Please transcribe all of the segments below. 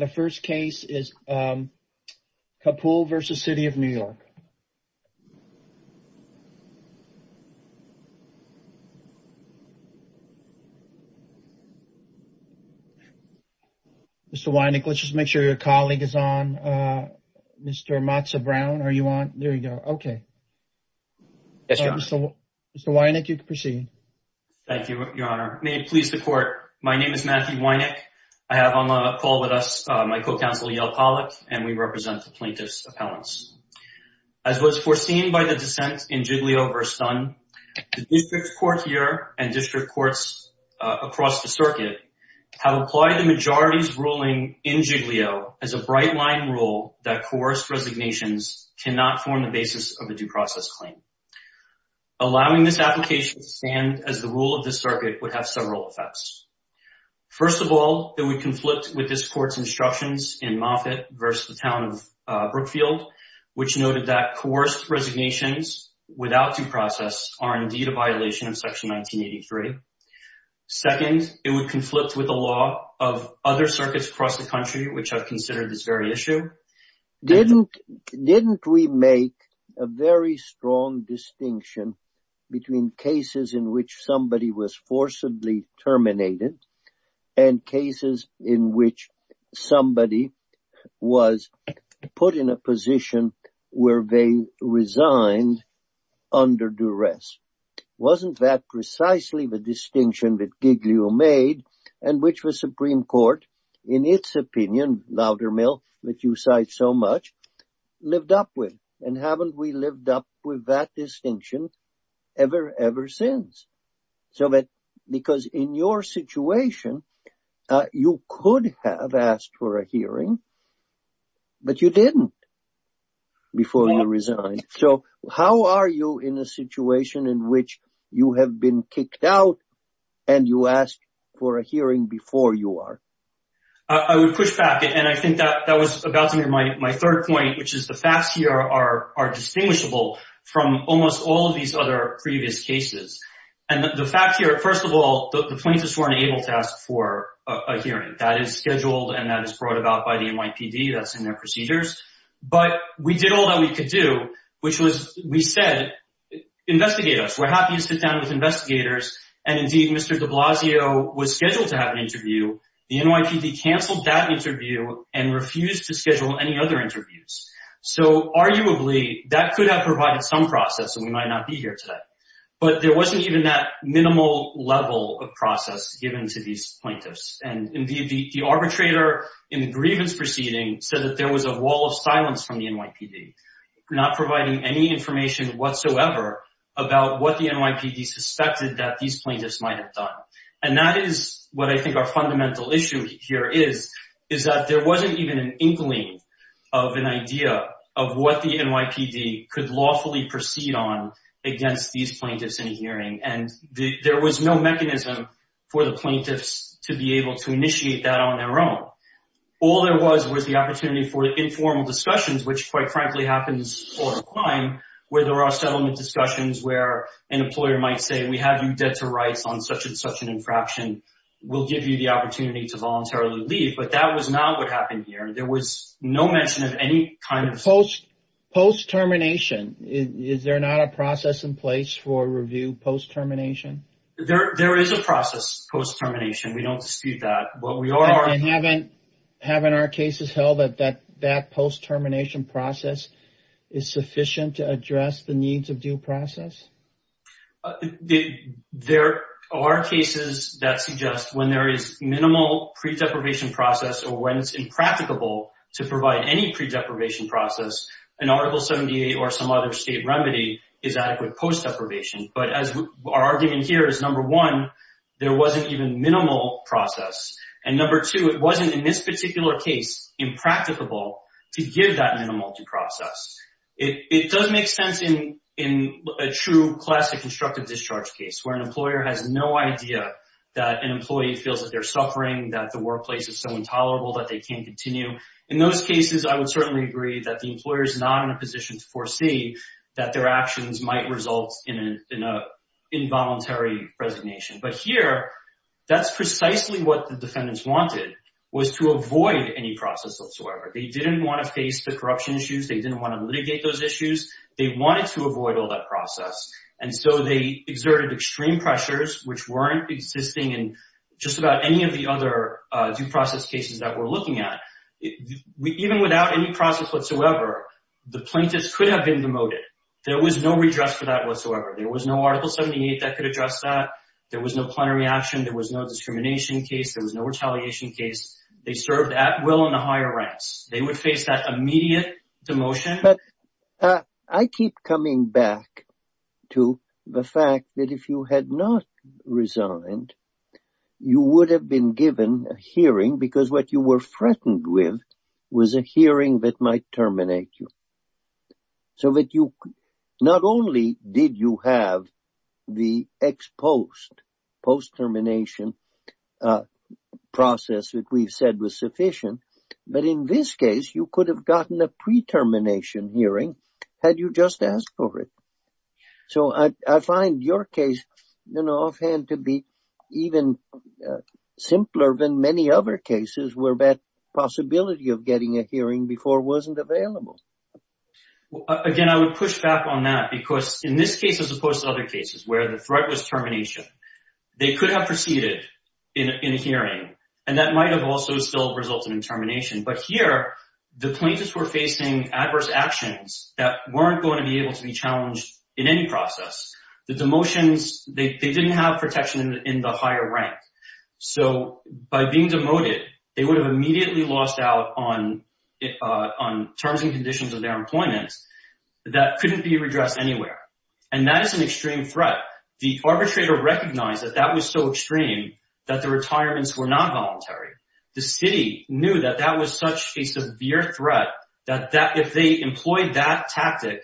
Mr. Wynick, let's just make sure your colleague is on. Mr. Matza-Brown, are you on? There you go. Okay. Yes, Your Honor. Mr. Wynick, you can proceed. Thank you, Your Honor. May it please the Court, my name is Matthew Wynick. I have on the poll with us, Mr. Matza-Brown, my co-counsel Yale Pollock, and we represent the plaintiff's appellants. As was foreseen by the dissent in Giglio v. Dunn, the district court here and district courts across the circuit have applied the majority's ruling in Giglio as a bright-line rule that coerced resignations cannot form the basis of a due process claim. Allowing this application to stand as the rule of the in Moffitt v. The Town of Brookfield, which noted that coerced resignations without due process are indeed a violation of Section 1983. Second, it would conflict with the law of other circuits across the country which have considered this very issue. Didn't we make a very strong distinction between cases in which somebody was forcibly terminated and cases in which somebody was put in a position where they resigned under duress? Wasn't that precisely the distinction that Giglio made and which the Supreme Court, in its opinion, louder, mill, that you cite so much, lived up with? And haven't we lived up with that distinction ever, ever since? So that because in your situation, you could have asked for a hearing, but you didn't before you resigned. So how are you in a situation in which you have been kicked out and you asked for a hearing before you are? I would push back, and I think that that was about to be my third point, which is the facts here are distinguishable from almost all of these other previous cases. And the fact here, first of all, the plaintiffs weren't able to ask for a hearing. That is scheduled and that is brought about by the NYPD. That's in their procedures. But we did all that we could do, which was, we said, investigate us. We're happy to sit down with investigators. And indeed, Mr. de Blasio was scheduled to have an interview. The NYPD canceled that interview and refused to schedule any other interviews. So arguably, that could have provided some process, and we might not be here today. But there wasn't even that minimal level of process given to these plaintiffs. And indeed, the arbitrator in the grievance proceeding said that there was a wall of silence from the NYPD, not providing any information whatsoever about what the NYPD suspected that these plaintiffs might have done. And that is what I think our fundamental issue here is, is that there wasn't even an inkling of an idea of what the NYPD could lawfully proceed on against these plaintiffs in hearing. And there was no mechanism for the plaintiffs to be able to initiate that on their own. All there was was the opportunity for informal discussions, which quite frankly happens all the time, where there are settlement discussions, where an employer might say, we have you dead to rights on such and such an infraction. We'll give you the opportunity to voluntarily leave. But that was not what happened here. There was no mention of any kind of... Post termination, is there not a process in place for review post termination? There is a process post termination. We don't dispute that. But we are... And haven't our cases held that that post termination process is sufficient to address the needs of due process? There are cases that suggest when there is minimal pre-deprivation process or when it's impracticable to provide any pre-deprivation process, an Article 78 or some other state remedy is adequate post deprivation. But as our argument here is, number one, there wasn't even minimal process. And number two, it wasn't in this particular case impracticable to give that minimal to process. It does make sense in a true classic constructive discharge case where an employer has no idea that an employee feels that they're suffering, that the workplace is so intolerable that they can't continue. In those cases, I would certainly agree that the employer is not in a position to foresee that their actions might result in an involuntary resignation. But here, that's precisely what the defendants wanted, was to avoid any process whatsoever. They didn't want to face the corruption issues. They didn't want to litigate those issues. They wanted to avoid all that process. And so they exerted extreme pressures, which weren't existing in just about any of the other due process cases that we're looking at. Even without any process whatsoever, the plaintiffs could have been demoted. There was no redress for that whatsoever. There was no Article 78 that could address that. There was no plenary action. There was no discrimination case. There was no retaliation case. They served at will in the higher ranks. They would face that immediate demotion. But I keep coming back to the fact that if you had not resigned, you would have been given a hearing because what you were threatened with was a hearing that might terminate you. So not only did you have the ex-post, post-termination process that we've said was sufficient, but in this case, you could have gotten a pre-termination hearing had you just asked for it. So I find your case offhand to be even simpler than many other cases where that Again, I would push back on that because in this case, as opposed to other cases where the threat was termination, they could have proceeded in a hearing, and that might have also still resulted in termination. But here, the plaintiffs were facing adverse actions that weren't going to be able to be challenged in any process. The demotions, they didn't have protection in the higher rank. So by being demoted, they would have immediately lost out on terms and conditions of employment that couldn't be redressed anywhere. And that is an extreme threat. The arbitrator recognized that that was so extreme that the retirements were not voluntary. The city knew that that was such a severe threat that if they employed that tactic,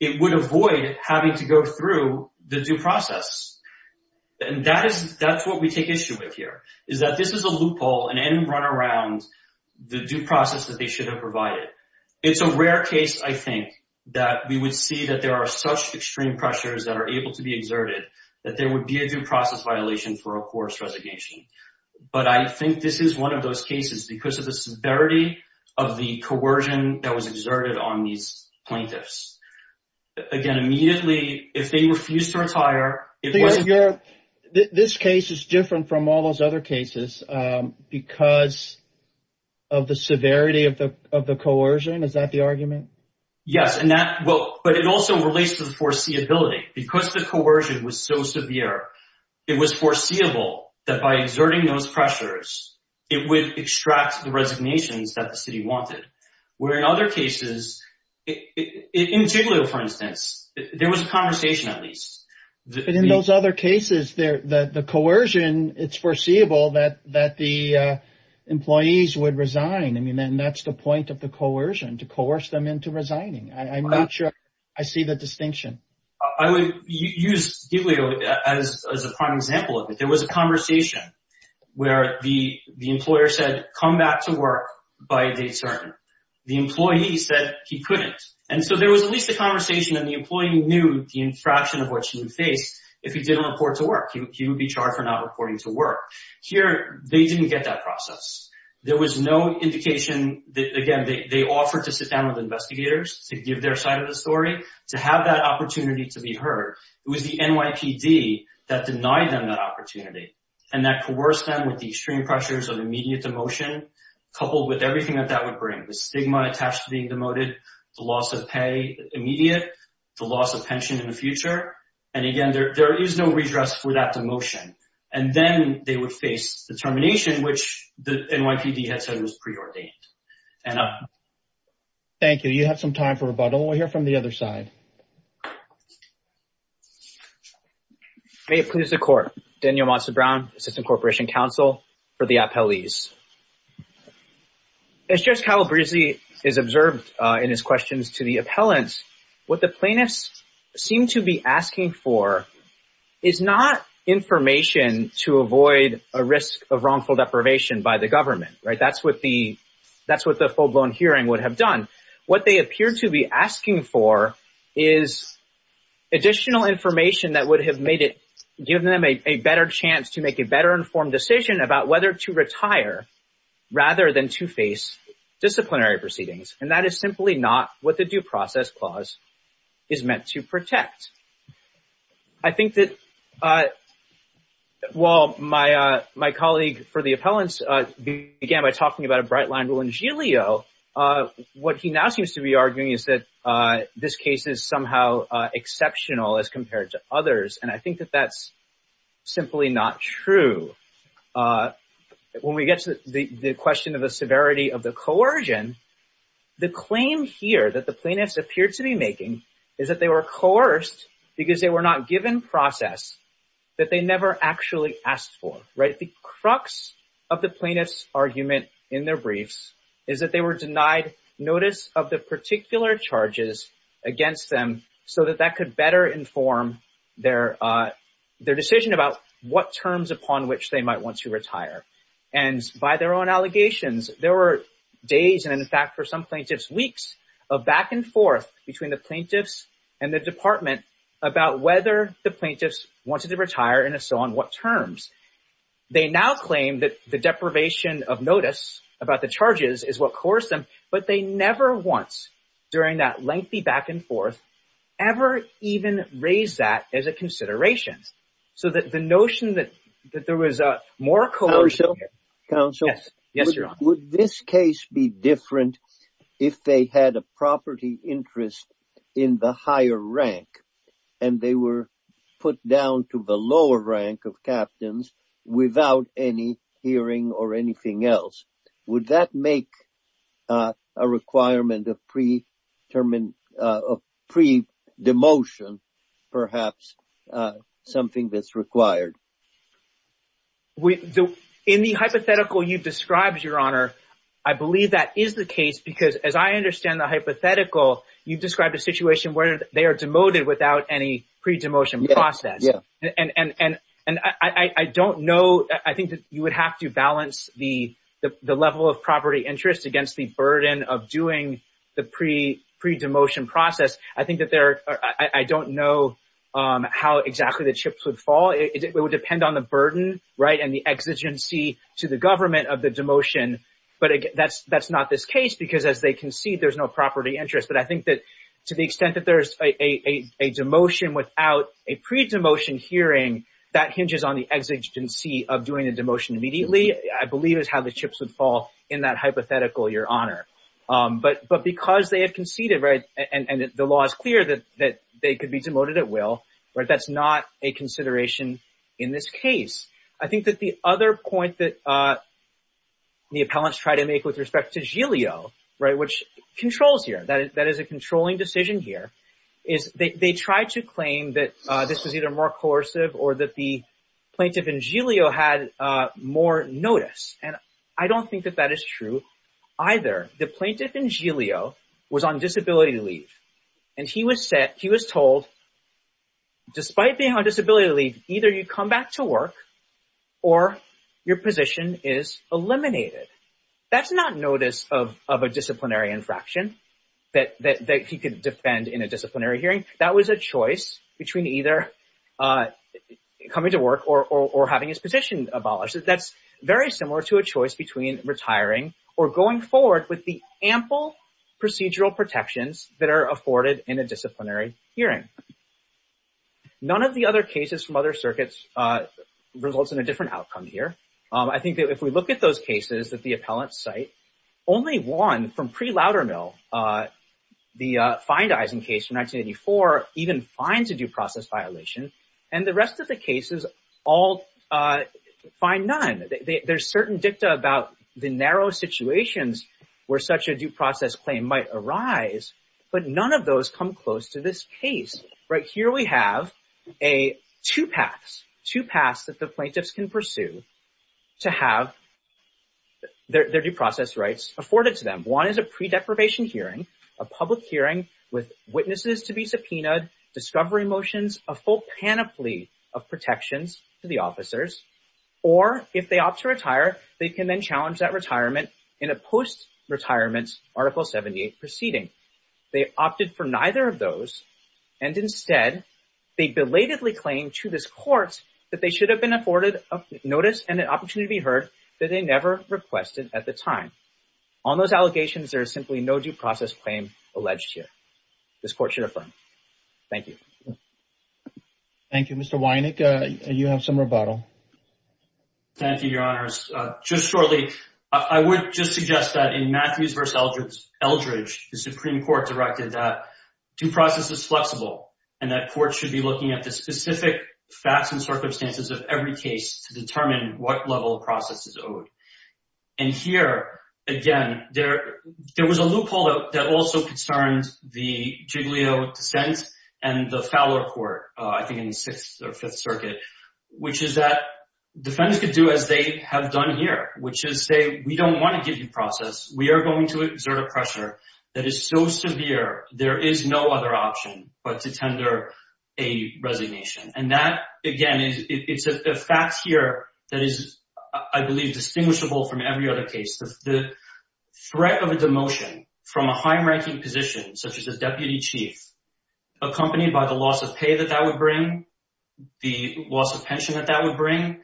it would avoid having to go through the due process. And that's what we take issue with here, is that this is a loophole, an I think, that we would see that there are such extreme pressures that are able to be exerted, that there would be a due process violation for a forced resignation. But I think this is one of those cases because of the severity of the coercion that was exerted on these plaintiffs. Again, immediately, if they refuse to retire... This case is different from all those other cases because of the severity of the coercion. Is that the argument? Yes. But it also relates to the foreseeability. Because the coercion was so severe, it was foreseeable that by exerting those pressures, it would extract the resignations that the city wanted. Where in other cases, in Giglio, for instance, there was a conversation, at least. But in those other cases, the coercion, it's foreseeable that the employees would resign. I mean, and that's the point of the coercion, to coerce them into resigning. I'm not sure I see the distinction. I would use Giglio as a prime example of it. There was a conversation where the employer said, come back to work by date certain. The employee said he couldn't. And so there was at least a conversation and the employee knew the infraction of what she would face if he didn't report to work. He would be charged for not reporting to work. Here, they didn't get that process. There was no indication that, again, they offered to sit down with investigators to give their side of the story, to have that opportunity to be heard. It was the NYPD that denied them that opportunity and that coerced them with the extreme pressures of immediate demotion, coupled with everything that that would bring. The stigma attached to the loss of pay immediate, the loss of pension in the future. And again, there is no redress for that demotion. And then they would face the termination, which the NYPD had said was preordained. Thank you. You have some time for rebuttal. We'll hear from the other side. May it please the court. Daniel Monson Brown, Assistant Corporation Counsel for the Appellees. As Judge Calabresi is observed in his questions to the appellants, what the plaintiffs seem to be asking for is not information to avoid a risk of wrongful deprivation by the government, right? That's what the full-blown hearing would have done. What they appear to be asking for is additional information that would have given them a better chance to make a better informed decision about whether to retire rather than to face disciplinary proceedings. And that is simply not what the due process clause is meant to protect. I think that while my colleague for the appellants began by talking about a bright line rule in Giglio, what he now seems to be arguing is that this case is somehow exceptional as compared to others. And I think that that's simply not true. When we get to the question of the severity of the coercion, the claim here that the plaintiffs appear to be making is that they were coerced because they were not given process that they never actually asked for, right? The crux of the plaintiff's argument in their briefs is that they were denied notice of the particular charges against them so that that could better inform their decision about what terms upon which they might want to retire. And by their own allegations, there were days and, in fact, for some plaintiffs, weeks of back and forth between the plaintiffs and the department about whether the plaintiffs wanted to retire and if so, on what terms. They now claim that the deprivation of notice about the charges is what coerced them, but they never once during that lengthy back and forth ever even raised that as a consideration. So that the notion that there was more coercion. Counsel? Yes, Your Honor. Would this case be different if they had a property interest in the higher rank and they were put down to the lower rank of captains without any hearing or anything else? Would that make a requirement of pre-demotion perhaps something that's required? In the hypothetical you described, Your Honor, I believe that is the case because as I understand the hypothetical, you described a situation where they are demoted without any to balance the level of property interest against the burden of doing the pre-demotion process. I don't know how exactly the chips would fall. It would depend on the burden and the exigency to the government of the demotion, but that's not this case because as they concede, there's no property interest. But I think that to the extent that there's a demotion without a pre-demotion hearing, that hinges on the exigency of doing the demotion immediately, I believe is how the chips would fall in that hypothetical, Your Honor. But because they have conceded, right, and the law is clear that they could be demoted at will, right, that's not a consideration in this case. I think that the other point that the appellants try to make with respect to Giglio, right, which controls here, that is a controlling decision here, is they try to claim that this was either more coercive or that the plaintiff in Giglio had more notice. And I don't think that that is true either. The plaintiff in Giglio was on disability leave and he was told, despite being on disability leave, either you come back to work or your position is eliminated. That's not notice of a disciplinary infraction that he could defend in a disciplinary hearing. That was a choice between either coming to work or having his position abolished. That's very similar to a choice between retiring or going forward with the ample procedural protections that are afforded in a disciplinary hearing. None of the other cases from other circuits results in a different outcome here. I think that if we look at those cases that the appellants cite, only one from pre-Loudermill, the Feindeisen case from 1984, even finds a due process violation and the rest of the cases all find none. There's certain dicta about the narrow situations where such a due process claim might arise, but none of those come close to this case. Right here we have two paths, two paths that the appellants have to have their due process rights afforded to them. One is a pre-deprivation hearing, a public hearing with witnesses to be subpoenaed, discovery motions, a full panoply of protections to the officers, or if they opt to retire, they can then challenge that retirement in a post-retirement Article 78 proceeding. They opted for neither of those and instead they belatedly claim to this court that they should have been afforded a notice and an opportunity to be heard that they never requested at the time. On those allegations, there is simply no due process claim alleged here. This court should affirm. Thank you. Thank you. Mr. Wynick, you have some rebuttal. Thank you, Your Honours. Just shortly, I would just suggest that in specific facts and circumstances of every case to determine what level of process is owed. And here, again, there was a loophole that also concerned the Giglio dissent and the Fowler Court, I think in the Sixth or Fifth Circuit, which is that defendants could do as they have done here, which is say, we don't want to give you process. We are going to exert a pressure that is so severe, there is no other option but to tender a resignation. And that, again, is a fact here that is, I believe, distinguishable from every other case. The threat of a demotion from a high-ranking position, such as a deputy chief, accompanied by the loss of pay that that would bring, the loss of pension that that would bring,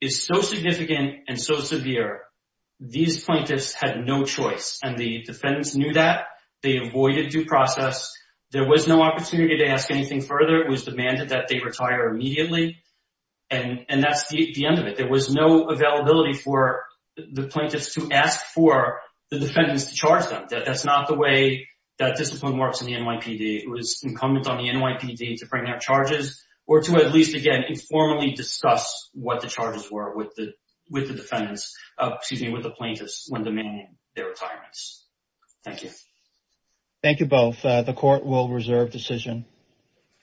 is so significant and so severe. These plaintiffs had no choice. And the defendants knew that. They avoided due process. There was no opportunity to ask anything further. It was demanded that they retire immediately. And that's the end of it. There was no availability for the plaintiffs to ask for the defendants to charge them. That's not the way that discipline works in the NYPD. It was incumbent on the NYPD to bring out charges or to at least, again, informally discuss what the charges were with the defendants, excuse me, with the plaintiffs when demanding their retirements. Thank you. Thank you both. The Court will reserve decision.